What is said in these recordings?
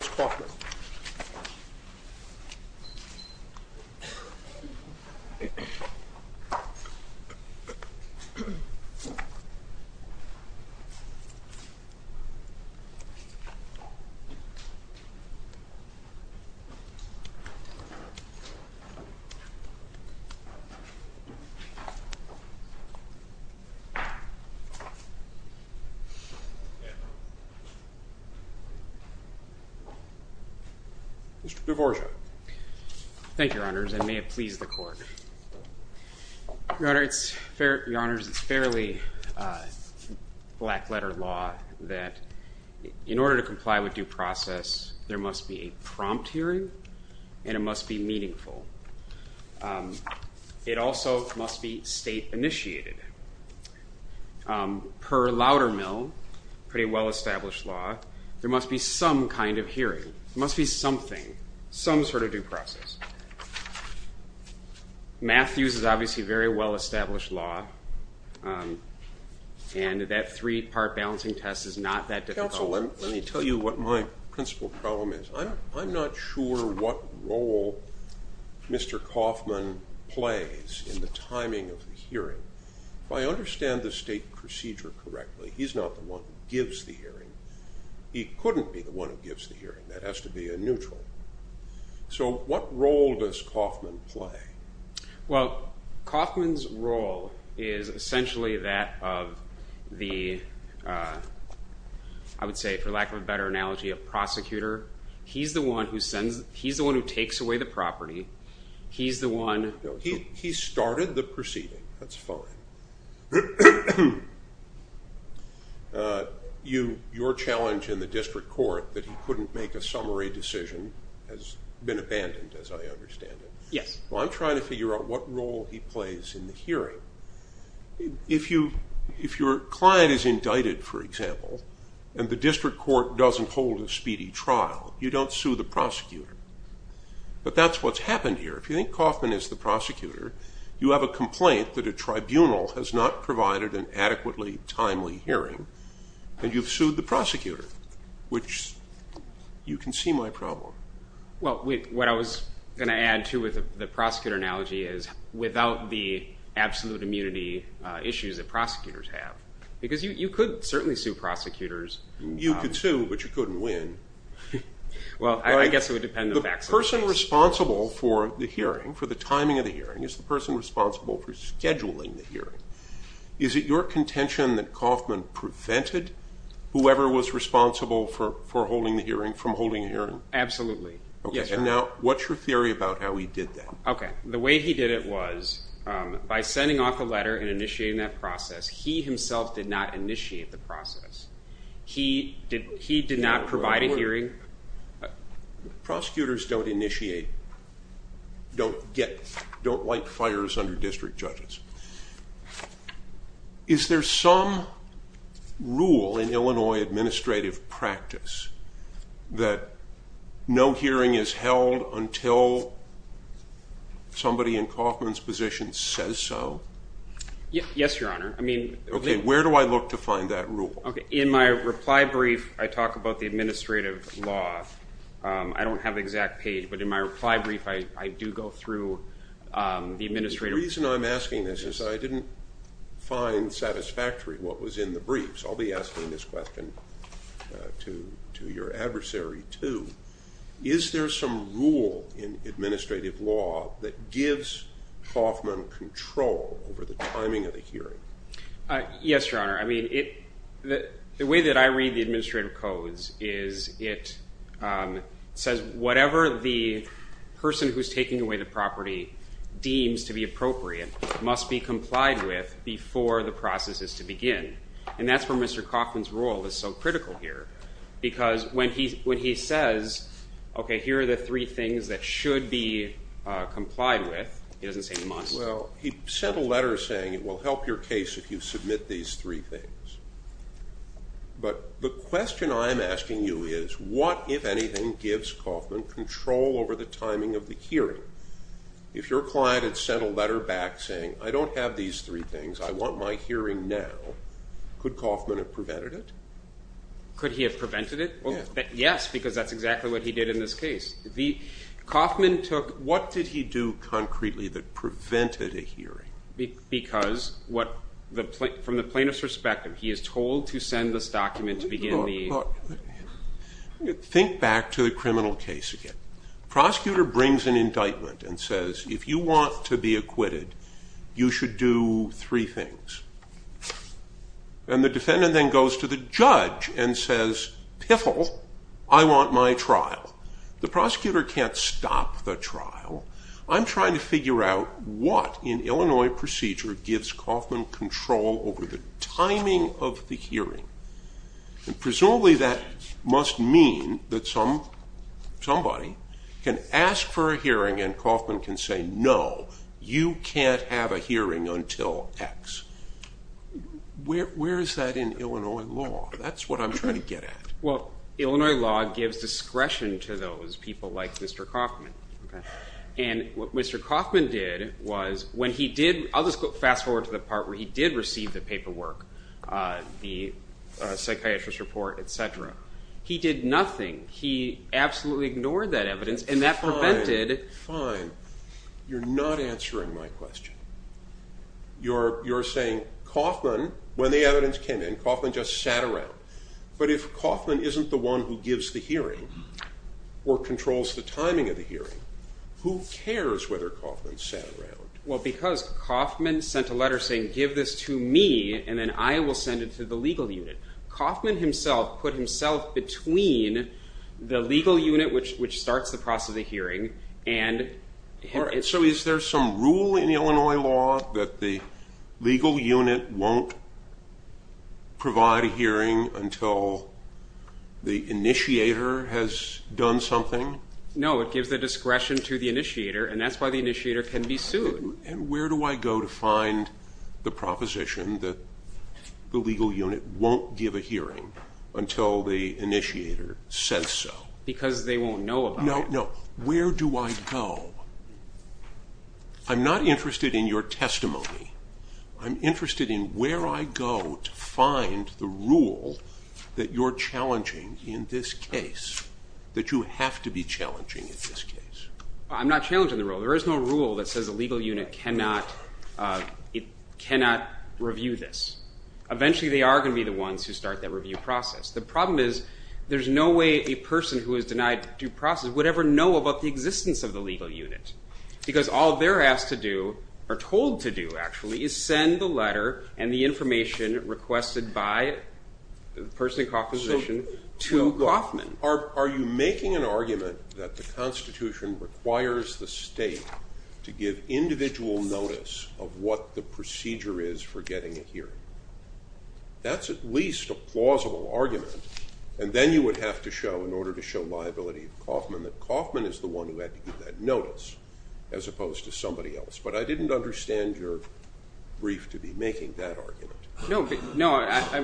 John R. Rhein v. John Coffman Mr. DeBorgia. Thank you, Your Honors, and may it please the Court. Your Honors, it's fairly black-letter law that in order to comply with due process, there must be a prompt hearing and it must be meaningful. It also must be state-initiated. Per Loudermill, a pretty well-established law, there must be some kind of hearing. There must be something, some sort of due process. Matthews is obviously a very well-established law and that three-part balancing test is not that difficult. Let me tell you what my principal problem is. I'm not sure what role Mr. Coffman plays in the timing of the hearing. If I understand the state procedure correctly, he's not the one who gives the hearing. He couldn't be the one who gives the hearing. That has to be a neutral. So what role does Coffman play? Well, Coffman's role is essentially that of the, I would say for lack of a better analogy, a prosecutor. He's the one who takes away the property. He started the proceeding. That's fine. Your challenge in the district court that he couldn't make a summary decision has been abandoned, as I understand it. Well, I'm trying to figure out what role he plays in the hearing. If your client is indicted, for example, and the district court doesn't hold a speedy trial, you don't sue the prosecutor. But that's what's happened here. If you think Coffman is the prosecutor, you have a complaint that a tribunal has not provided an adequately timely hearing and you've sued the prosecutor, which you can see my problem. Well, what I was going to add, too, with the prosecutor analogy is without the absolute immunity issues that prosecutors have, because you could certainly sue prosecutors. You could sue, but you couldn't win. Well, I guess it would depend on the facts of the case. The person responsible for the hearing, for the timing of the hearing, is the person responsible for scheduling the hearing. Is it your contention that Coffman prevented whoever was responsible for holding the hearing from holding a hearing? Absolutely. Now, what's your theory about how he did that? The way he did it was by sending off a letter and initiating that process, he himself did not initiate the process. He did not provide a hearing. Prosecutors don't initiate, don't light fires under district judges. Is there some rule in Illinois administrative practice that no hearing is held until somebody in Coffman's position says so? Yes, Your Honor. Okay, where do I look to find that rule? In my reply brief, I talk about the administrative law. I don't have the exact page, but in my reply brief, I do go through the administrative law. The reason I'm asking this is I didn't find satisfactory what was in the briefs. I'll be asking this question to your adversary, too. Is there some rule in administrative law that gives Coffman control over the timing of the hearing? Yes, Your Honor. I mean, the way that I read the administrative codes is it says whatever the person who's taking away the property deems to be appropriate must be complied with before the process is to begin. And that's where Mr. Coffman's role is so critical here because when he says, okay, here are the three things that should be complied with, he doesn't say must. He sent a letter saying it will help your case if you submit these three things. But the question I'm asking you is what, if anything, gives Coffman control over the timing of the hearing? If your client had sent a letter back saying I don't have these three things, I want my hearing now, could Coffman have prevented it? Could he have prevented it? Yes. Yes, because that's exactly what he did in this case. What did he do concretely that prevented a hearing? Because from the plaintiff's perspective, he is told to send this document to begin the hearing. Think back to the criminal case again. Prosecutor brings an indictment and says if you want to be acquitted, you should do three things. And the defendant then goes to the judge and says, piffle, I want my trial. The prosecutor can't stop the trial. I'm trying to figure out what in Illinois procedure gives Coffman control over the timing of the hearing. And presumably that must mean that somebody can ask for a hearing and Coffman can say, no, you can't have a hearing until X. Where is that in Illinois law? That's what I'm trying to get at. Well, Illinois law gives discretion to those people like Mr. Coffman. And what Mr. Coffman did was when he did, I'll just fast forward to the part where he did receive the paperwork, the psychiatrist report, etc. He did nothing. He absolutely ignored that evidence and that prevented. Fine. You're not answering my question. You're saying Coffman, when the evidence came in, Coffman just sat around. But if Coffman isn't the one who gives the hearing or controls the timing of the hearing, who cares whether Coffman sat around? Well, because Coffman sent a letter saying, give this to me and then I will send it to the legal unit. Coffman himself put himself between the legal unit, which starts the process of the hearing. So is there some rule in Illinois law that the legal unit won't provide a hearing until the initiator has done something? No, it gives the discretion to the initiator, and that's why the initiator can be sued. And where do I go to find the proposition that the legal unit won't give a hearing until the initiator says so? No, no, no. Where do I go? I'm not interested in your testimony. I'm interested in where I go to find the rule that you're challenging in this case, that you have to be challenging in this case. I'm not challenging the rule. There is no rule that says the legal unit cannot review this. Eventually they are going to be the ones who start that review process. The problem is there's no way a person who is denied due process would ever know about the existence of the legal unit. Because all they're asked to do, or told to do actually, is send the letter and the information requested by the person in Coffman's position to Coffman. Are you making an argument that the Constitution requires the state to give individual notice of what the procedure is for getting a hearing? That's at least a plausible argument. And then you would have to show, in order to show liability to Coffman, that Coffman is the one who had to give that notice, as opposed to somebody else. But I didn't understand your brief to be making that argument. No,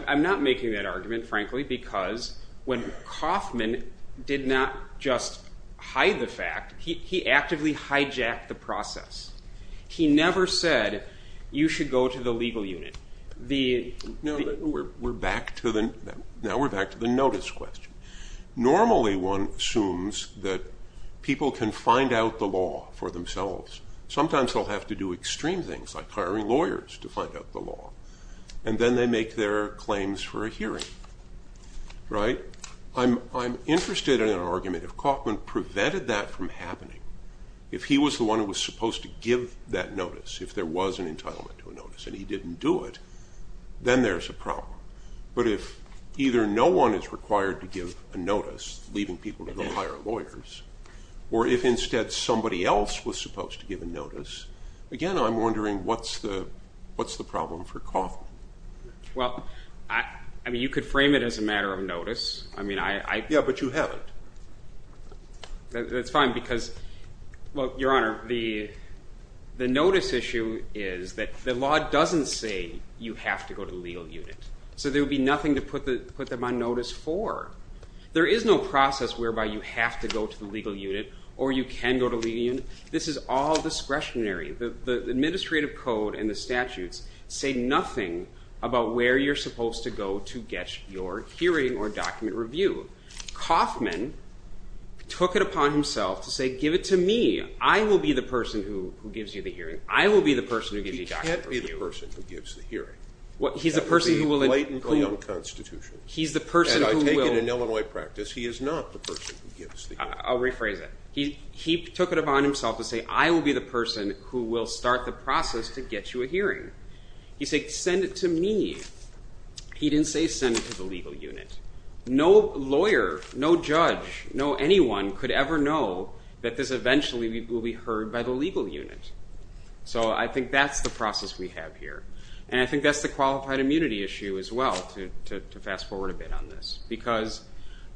I'm not making that argument, frankly, because when Coffman did not just hide the fact, he actively hijacked the process. He never said, you should go to the legal unit. Now we're back to the notice question. Normally one assumes that people can find out the law for themselves. Sometimes they'll have to do extreme things, like hiring lawyers to find out the law. And then they make their claims for a hearing. I'm interested in an argument if Coffman prevented that from happening. If he was the one who was supposed to give that notice, if there was an entitlement to a notice, and he didn't do it, then there's a problem. But if either no one is required to give a notice, leaving people to go hire lawyers, or if instead somebody else was supposed to give a notice, again, I'm wondering what's the problem for Coffman? Well, I mean, you could frame it as a matter of notice. Yeah, but you haven't. That's fine, because, well, Your Honor, the notice issue is that the law doesn't say you have to go to the legal unit. So there would be nothing to put them on notice for. There is no process whereby you have to go to the legal unit, or you can go to the legal unit. This is all discretionary. The administrative code and the statutes say nothing about where you're supposed to go to get your hearing or document reviewed. Coffman took it upon himself to say, give it to me. I will be the person who gives you the hearing. I will be the person who gives you the document reviewed. He can't be the person who gives the hearing. He's the person who will— That would be blatantly unconstitutional. He's the person who will— And I take it in Illinois practice, he is not the person who gives the hearing. I'll rephrase it. He took it upon himself to say, I will be the person who will start the process to get you a hearing. He said, send it to me. He didn't say send it to the legal unit. No lawyer, no judge, no anyone could ever know that this eventually will be heard by the legal unit. So I think that's the process we have here. And I think that's the qualified immunity issue as well, to fast forward a bit on this. Because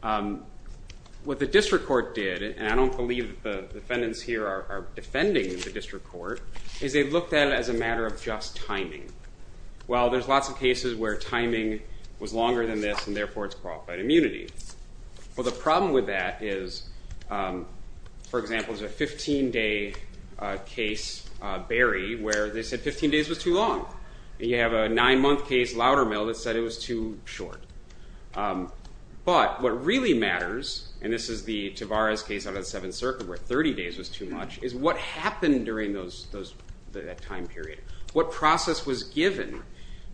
what the district court did, and I don't believe the defendants here are defending the district court, is they looked at it as a matter of just timing. Well, there's lots of cases where timing was longer than this, and therefore it's qualified immunity. Well, the problem with that is, for example, there's a 15-day case, Berry, where they said 15 days was too long. And you have a nine-month case, Loudermill, that said it was too short. But what really matters, and this is the Tavares case out of the Seventh Circuit where 30 days was too much, is what happened during that time period. What process was given?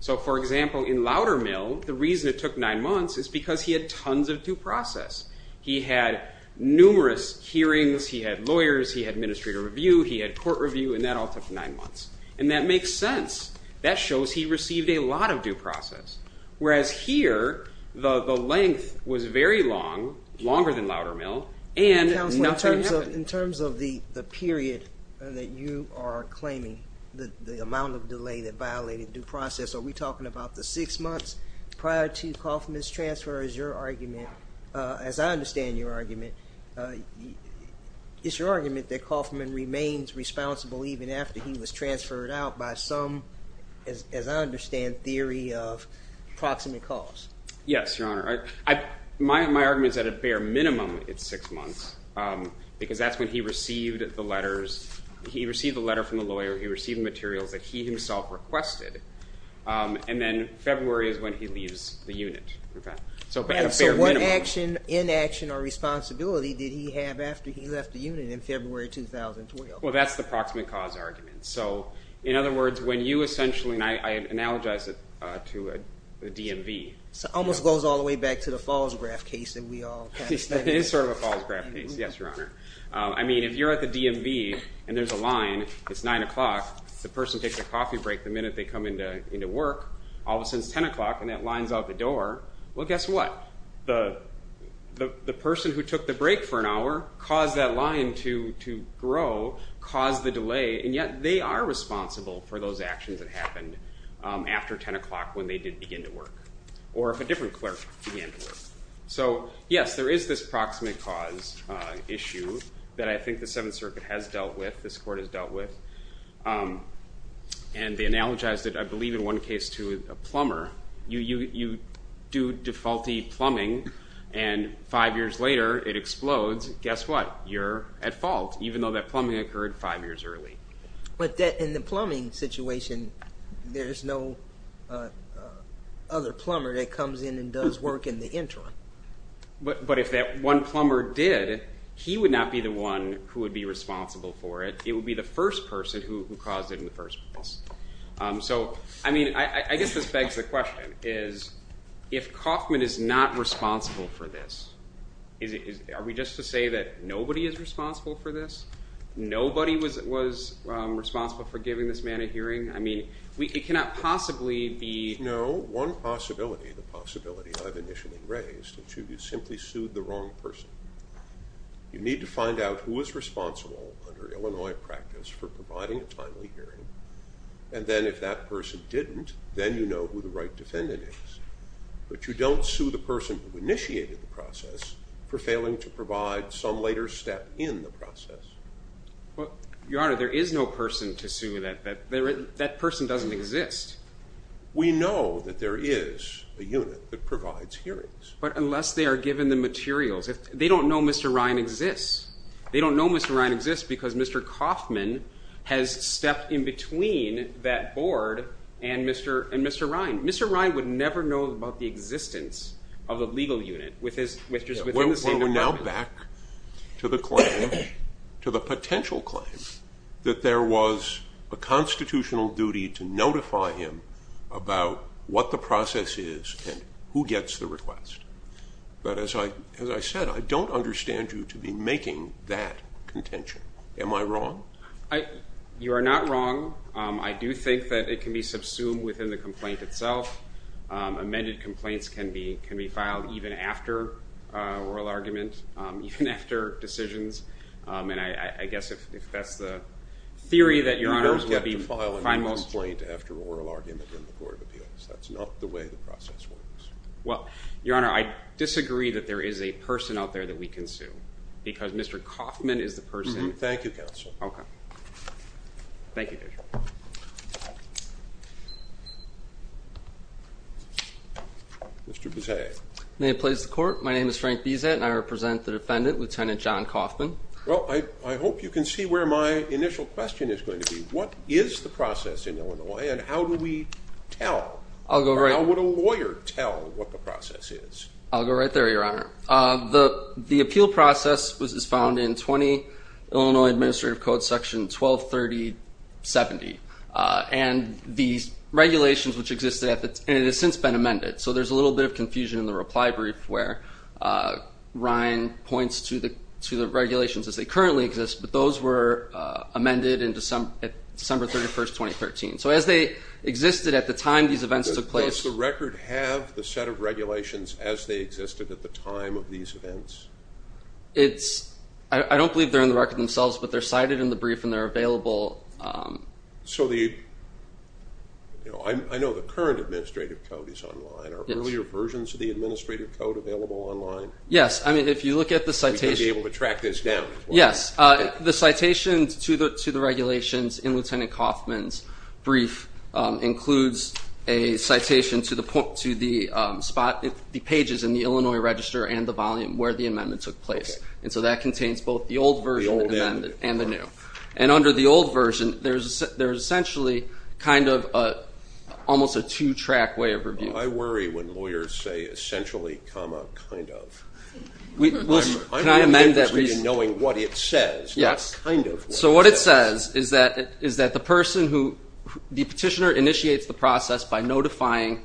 So, for example, in Loudermill, the reason it took nine months is because he had tons of due process. He had numerous hearings, he had lawyers, he had administrative review, he had court review, and that all took nine months. And that makes sense. That shows he received a lot of due process. Whereas here, the length was very long, longer than Loudermill, and nothing happened. So in terms of the period that you are claiming, the amount of delay that violated due process, are we talking about the six months prior to Kaufman's transfer is your argument, as I understand your argument, is your argument that Kaufman remains responsible even after he was transferred out by some, as I understand, theory of proximate cause? Yes, Your Honor. My argument is at a bare minimum it's six months, because that's when he received the letters, he received the letter from the lawyer, he received materials that he himself requested, and then February is when he leaves the unit. So at a bare minimum. So what action, inaction, or responsibility did he have after he left the unit in February 2012? Well, that's the proximate cause argument. So, in other words, when you essentially, and I analogize it to a DMV. It almost goes all the way back to the Falls Graph case that we all kind of studied. It is sort of a Falls Graph case, yes, Your Honor. I mean, if you're at the DMV and there's a line, it's 9 o'clock, the person takes a coffee break the minute they come into work, all of a sudden it's 10 o'clock and that line's out the door, well, guess what? The person who took the break for an hour caused that line to grow, caused the delay, and yet they are responsible for those actions that happened after 10 o'clock when they did begin to work, or if a different clerk began to work. So, yes, there is this proximate cause issue that I think the Seventh Circuit has dealt with, this Court has dealt with, and they analogize it, I believe, in one case to a plumber. You do defaulty plumbing and five years later it explodes. Guess what? You're at fault, even though that plumbing occurred five years early. But in the plumbing situation, there's no other plumber that comes in and does work in the interim. But if that one plumber did, he would not be the one who would be responsible for it. It would be the first person who caused it in the first place. So, I mean, I guess this begs the question, is if Kaufman is not responsible for this, are we just to say that nobody is responsible for this? Nobody was responsible for giving this man a hearing? I mean, it cannot possibly be. No, one possibility, the possibility I've initially raised, is you simply sued the wrong person. You need to find out who is responsible under Illinois practice for providing a timely hearing, and then if that person didn't, then you know who the right defendant is. But you don't sue the person who initiated the process for failing to provide some later step in the process. Your Honor, there is no person to sue that. That person doesn't exist. We know that there is a unit that provides hearings. But unless they are given the materials. They don't know Mr. Ryan exists. They don't know Mr. Ryan exists because Mr. Kaufman has stepped in between that board and Mr. Ryan. Mr. Ryan would never know about the existence of a legal unit which is within the same department. Well, we're now back to the claim, to the potential claim, that there was a constitutional duty to notify him about what the process is and who gets the request. But as I said, I don't understand you to be making that contention. Am I wrong? You are not wrong. I do think that it can be subsumed within the complaint itself. Amended complaints can be filed even after oral argument, even after decisions. And I guess if that's the theory that Your Honor would be fine most. You don't get to file a complaint after oral argument in the Court of Appeals. That's not the way the process works. Well, Your Honor, I disagree that there is a person out there that we can sue. Because Mr. Kaufman is the person. Thank you, Counsel. Okay. Thank you, Judge. Mr. Bezea. May it please the Court, my name is Frank Bezea and I represent the defendant, Lieutenant John Kaufman. Well, I hope you can see where my initial question is going to be. What is the process in Illinois and how do we tell? Or how would a lawyer tell what the process is? I'll go right there, Your Honor. The appeal process was found in 20 Illinois Administrative Code Section 123070. And these regulations which existed at the time, and it has since been amended. So there's a little bit of confusion in the reply brief where Ryan points to the regulations as they currently exist. But those were amended at December 31, 2013. So as they existed at the time these events took place. Does the record have the set of regulations as they existed at the time of these events? I don't believe they're in the record themselves, but they're cited in the brief and they're available. So I know the current Administrative Code is online. Are earlier versions of the Administrative Code available online? Yes. I mean, if you look at the citation. We can be able to track this down. Yes. The citation to the regulations in Lieutenant Kaufman's brief includes a citation to the pages in the Illinois Register and the volume where the amendment took place. And so that contains both the old version and the new. And under the old version, there's essentially kind of almost a two-track way of reviewing. I worry when lawyers say essentially, comma, kind of. I'm interested in knowing what it says. Yes. Kind of. So what it says is that the petitioner initiates the process by notifying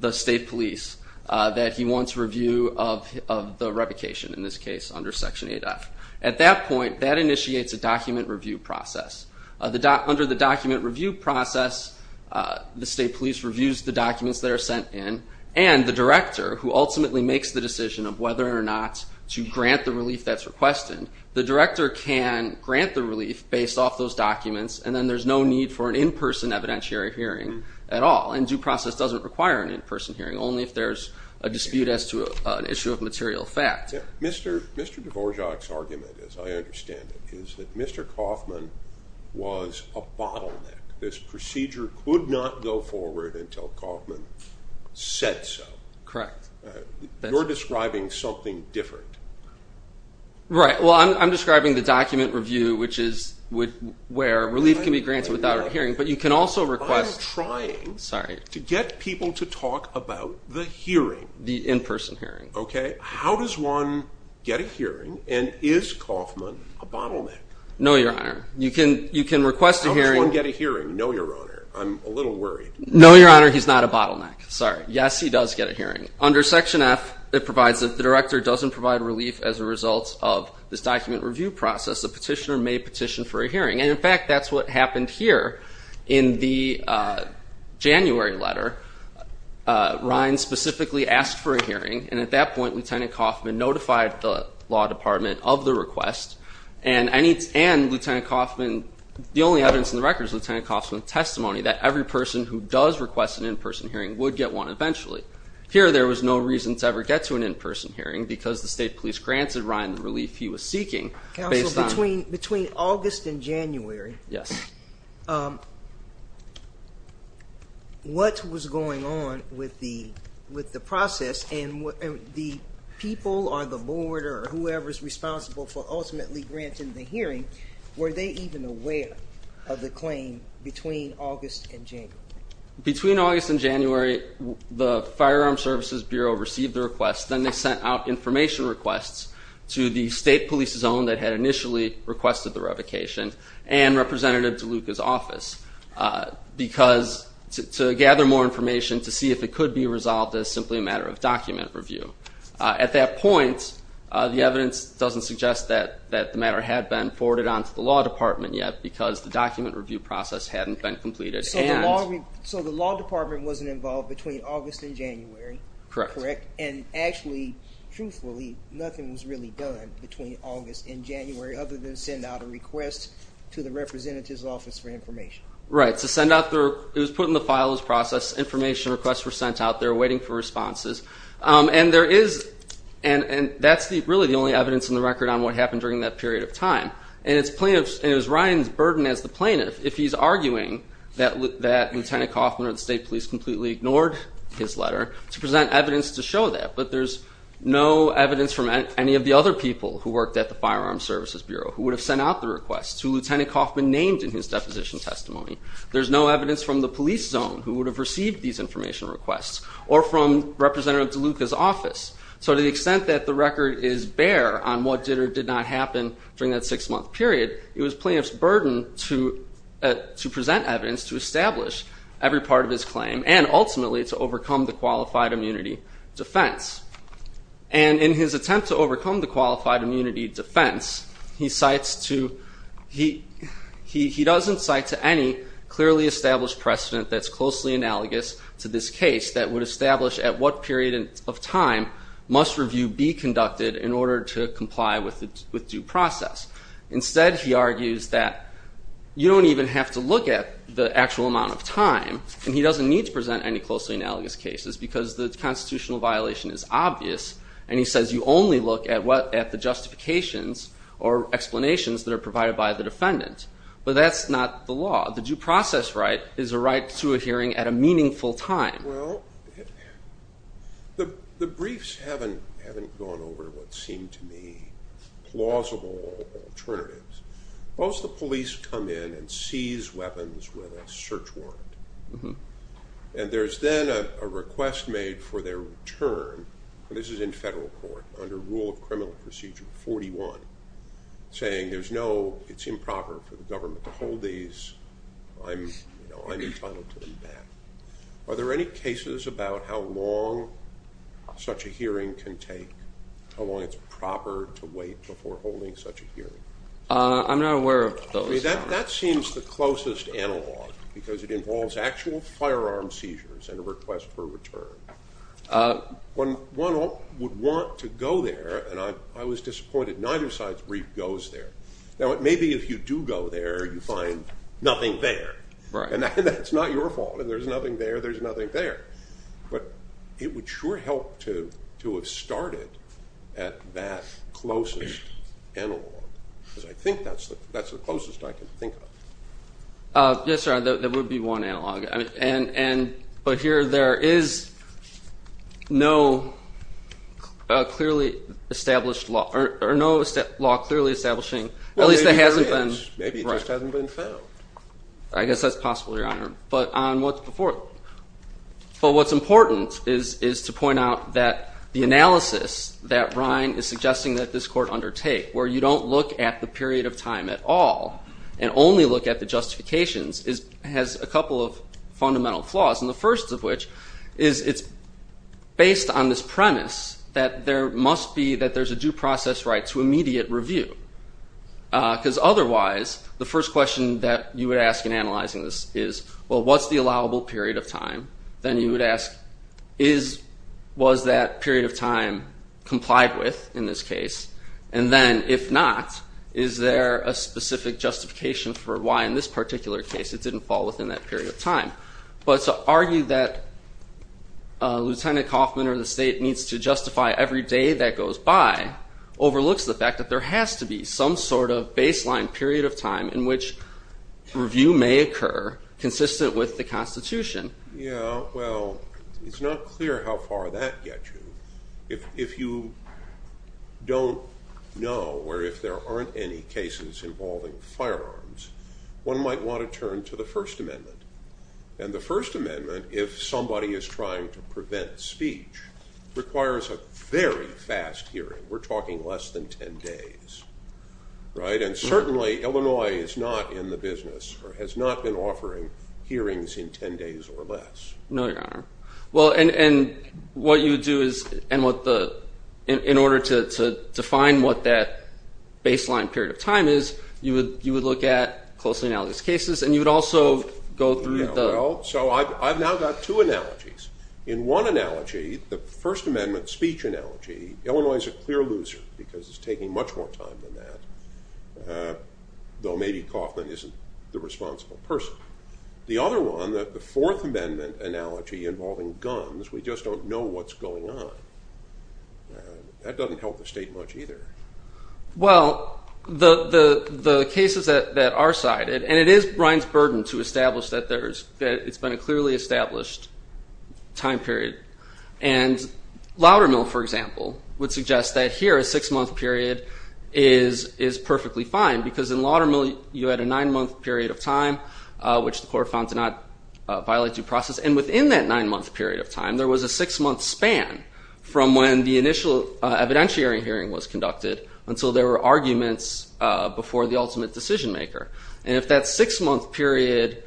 the state police that he wants a review of the revocation, in this case under Section 8F. At that point, that initiates a document review process. Under the document review process, the state police reviews the documents that are sent in and the director, who ultimately makes the decision of whether or not to grant the relief that's requested, the director can grant the relief based off those documents, and then there's no need for an in-person evidentiary hearing at all. And due process doesn't require an in-person hearing, only if there's a dispute as to an issue of material fact. Mr. Dvorak's argument, as I understand it, is that Mr. Kaufman was a bottleneck. This procedure could not go forward until Kaufman said so. Correct. You're describing something different. Right. Well, I'm describing the document review, which is where relief can be granted without a hearing. But you can also request. I'm trying to get people to talk about the hearing. The in-person hearing. Okay. How does one get a hearing, and is Kaufman a bottleneck? No, Your Honor. You can request a hearing. How does one get a hearing? No, Your Honor. I'm a little worried. No, Your Honor. He's not a bottleneck. Sorry. Yes, he does get a hearing. Under Section F, it provides that the director doesn't provide relief as a result of this document review process. The petitioner may petition for a hearing. And, in fact, that's what happened here in the January letter. Ryan specifically asked for a hearing, and at that point, Lieutenant Kaufman notified the law department of the request, and Lieutenant Kaufman, the only evidence in the record is Lieutenant Kaufman's testimony that every person who does request an in-person hearing would get one eventually. Here, there was no reason to ever get to an in-person hearing because the state police granted Ryan the relief he was seeking. Counsel, between August and January, what was going on with the process, and the people or the board or whoever is responsible for ultimately granting the hearing, were they even aware of the claim between August and January? Between August and January, the Firearm Services Bureau received the request. Then they sent out information requests to the state police zone that had initially requested the revocation and Representative DeLuca's office to gather more information to see if it could be resolved as simply a matter of document review. At that point, the evidence doesn't suggest that the matter had been forwarded on to the law department yet because the document review process hadn't been completed. So the law department wasn't involved between August and January. Correct. And actually, truthfully, nothing was really done between August and January other than send out a request to the representative's office for information. Right. It was put in the files process. Information requests were sent out. They were waiting for responses. And that's really the only evidence in the record on what happened during that period of time. And it was Ryan's burden as the plaintiff, if he's arguing that Lieutenant Coffman or the state police completely ignored his letter, to present evidence to show that. But there's no evidence from any of the other people who worked at the Firearm Services Bureau who would have sent out the request to Lieutenant Coffman named in his deposition testimony. There's no evidence from the police zone who would have received these information requests or from Representative DeLuca's office. So to the extent that the record is bare on what did or did not happen during that six-month period, it was plaintiff's burden to present evidence to establish every part of his claim and ultimately to overcome the qualified immunity defense. And in his attempt to overcome the qualified immunity defense, he doesn't cite to any clearly established precedent that's closely analogous to this case that would establish at what period of time must review be conducted in order to comply with due process. Instead, he argues that you don't even have to look at the actual amount of time, and he doesn't need to present any closely analogous cases because the constitutional violation is obvious, and he says you only look at the justifications or explanations that are provided by the defendant. But that's not the law. The due process right is a right to a hearing at a meaningful time. Well, the briefs haven't gone over what seem to me plausible alternatives. Most of the police come in and seize weapons with a search warrant, and there's then a request made for their return, and this is in federal court, under Rule of Criminal Procedure 41, saying it's improper for the government to hold these. I'm entitled to them back. Are there any cases about how long such a hearing can take, how long it's proper to wait before holding such a hearing? I'm not aware of those. That seems the closest analog because it involves actual firearm seizures and a request for return. One would want to go there, and I was disappointed. Neither side's brief goes there. Now, maybe if you do go there, you find nothing there, and that's not your fault, and there's nothing there, there's nothing there. But it would sure help to have started at that closest analog because I think that's the closest I can think of. Yes, sir, there would be one analog, but here there is no clearly established law or no law clearly establishing, at least it hasn't been. Maybe it just hasn't been found. I guess that's possible, Your Honor. But on what's important is to point out that the analysis that Ryan is suggesting that this court undertake, where you don't look at the period of time at all and only look at the justifications has a couple of fundamental flaws, and the first of which is it's based on this premise that there must be, that there's a due process right to immediate review because otherwise the first question that you would ask in analyzing this is, well, what's the allowable period of time? Then you would ask, was that period of time complied with in this case? And then, if not, is there a specific justification for why in this particular case it didn't fall within that period of time? But to argue that Lieutenant Kaufman or the state needs to justify every day that goes by overlooks the fact that there has to be some sort of baseline period of time in which review may occur consistent with the Constitution. Yeah, well, it's not clear how far that gets you. If you don't know or if there aren't any cases involving firearms, one might want to turn to the First Amendment. And the First Amendment, if somebody is trying to prevent speech, requires a very fast hearing. We're talking less than ten days, right? And certainly Illinois is not in the business or has not been offering hearings in ten days or less. No, Your Honor. Well, and what you would do is, in order to define what that baseline period of time is, you would look at closely analyzed cases and you would also go through the... Well, so I've now got two analogies. In one analogy, the First Amendment speech analogy, Illinois is a clear loser because it's taking much more time than that, though maybe Kaufman isn't the responsible person. The other one, the Fourth Amendment analogy involving guns, we just don't know what's going on. That doesn't help the state much either. Well, the cases that are cited, and it is Brian's burden to establish that it's been a clearly established time period. And Loudermill, for example, would suggest that here a six-month period is perfectly fine because in Loudermill you had a nine-month period of time, which the court found to not violate due process. And within that nine-month period of time, there was a six-month span from when the initial evidentiary hearing was conducted until there were arguments before the ultimate decision maker. And if that six-month period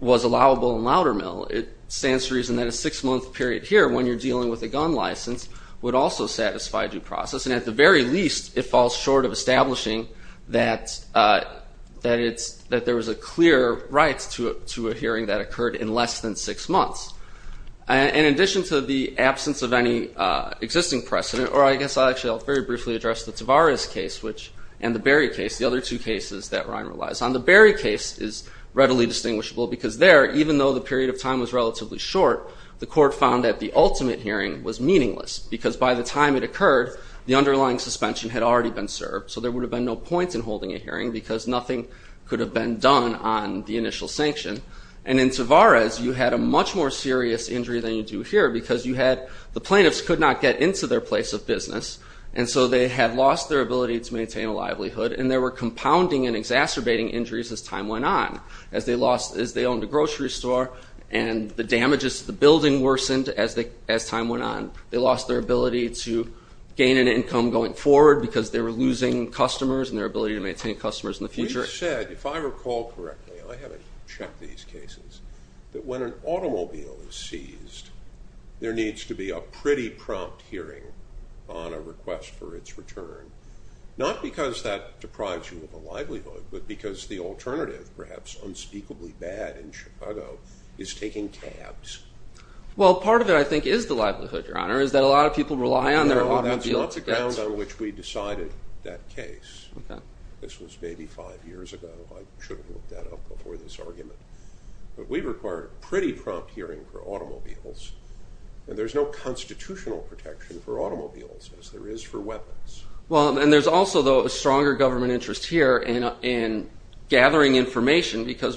was allowable in Loudermill, it stands to reason that a six-month period here when you're dealing with a gun license would also satisfy due process. And at the very least, it falls short of establishing that there was a clear right to a hearing that occurred in less than six months. And in addition to the absence of any existing precedent, or I guess I'll actually very briefly address the Tavares case and the Berry case, the other two cases that Ryan relies on. The Berry case is readily distinguishable because there, even though the period of time was relatively short, the court found that the ultimate hearing was meaningless because by the time it occurred, the underlying suspension had already been served, so there would have been no point in holding a hearing because nothing could have been done on the initial sanction. And in Tavares, you had a much more serious injury than you do here because the plaintiffs could not get into their place of business, and so they had lost their ability to maintain a livelihood, and there were compounding and exacerbating injuries as time went on. As they owned a grocery store and the damages to the building worsened as time went on, they lost their ability to gain an income going forward because they were losing customers and their ability to maintain customers in the future. You said, if I recall correctly, I haven't checked these cases, that when an automobile is seized, there needs to be a pretty prompt hearing on a request for its return, not because that deprives you of a livelihood, but because the alternative, perhaps unspeakably bad in Chicago, is taking tabs. Well, part of it, I think, is the livelihood, Your Honor, is that a lot of people rely on their automobiles. No, that's not the grounds on which we decided that case. This was maybe five years ago. I should have looked that up before this argument. But we required a pretty prompt hearing for automobiles, and there's no constitutional protection for automobiles as there is for weapons. Well, and there's also, though, a stronger government interest here in gathering information because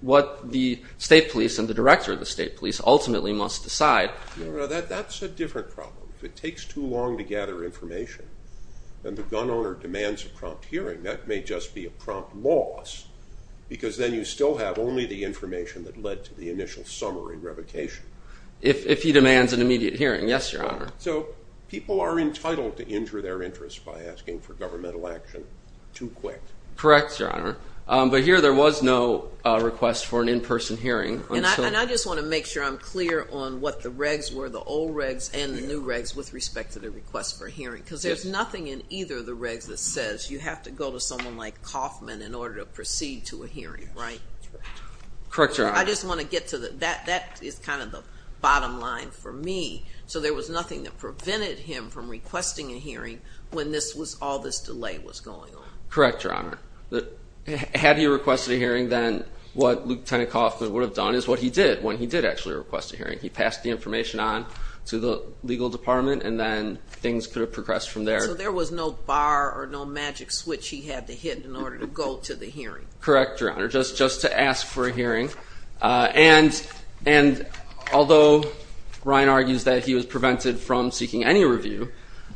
what the state police and the director of the state police ultimately must decide. That's a different problem. If it takes too long to gather information and the gun owner demands a prompt hearing, that may just be a prompt loss because then you still have only the information that led to the initial summary revocation. If he demands an immediate hearing, yes, Your Honor. So people are entitled to injure their interests by asking for governmental action too quick. Correct, Your Honor. But here there was no request for an in-person hearing. And I just want to make sure I'm clear on what the regs were, the old regs and the new regs, with respect to the request for a hearing because there's nothing in either of the regs that says you have to go to someone like Kaufman in order to proceed to a hearing, right? Correct, Your Honor. I just want to get to that. That is kind of the bottom line for me. So there was nothing that prevented him from requesting a hearing when all this delay was going on. Correct, Your Honor. Had he requested a hearing, then what Lieutenant Kaufman would have done is what he did when he did actually request a hearing. He passed the information on to the legal department and then things could have progressed from there. So there was no bar or no magic switch he had to hit in order to go to the hearing. Correct, Your Honor, just to ask for a hearing. And although Ryan argues that he was prevented from seeking any review,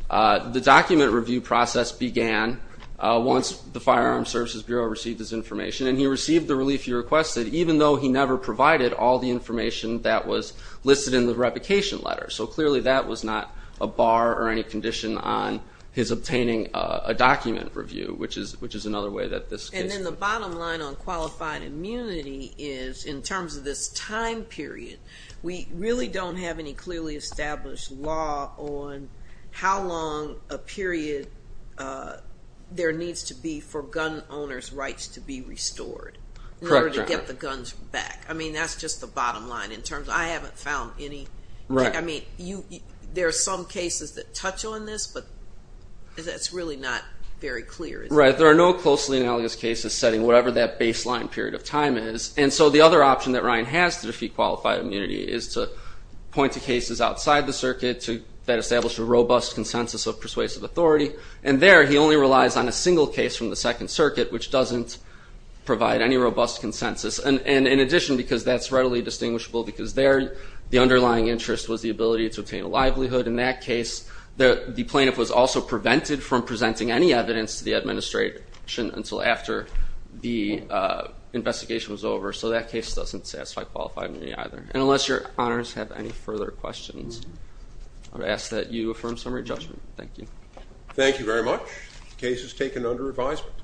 the document review process began once the Firearms Services Bureau received this information, and he received the relief he requested even though he never provided all the information that was listed in the replication letter. So clearly that was not a bar or any condition on his obtaining a document review, And then the bottom line on qualified immunity is, in terms of this time period, we really don't have any clearly established law on how long a period there needs to be for gun owners' rights to be restored in order to get the guns back. I mean, that's just the bottom line in terms of I haven't found any. I mean, there are some cases that touch on this, but that's really not very clear. Right, there are no closely analogous cases setting whatever that baseline period of time is. And so the other option that Ryan has to defeat qualified immunity is to point to cases outside the circuit that establish a robust consensus of persuasive authority, and there he only relies on a single case from the Second Circuit, which doesn't provide any robust consensus. And in addition, because that's readily distinguishable, because there the underlying interest was the ability to obtain a livelihood, in that case the plaintiff was also prevented from presenting any evidence to the administration until after the investigation was over. So that case doesn't satisfy qualified immunity either. And unless your honors have any further questions, I would ask that you affirm summary judgment. Thank you. Thank you very much. The case is taken under advisement.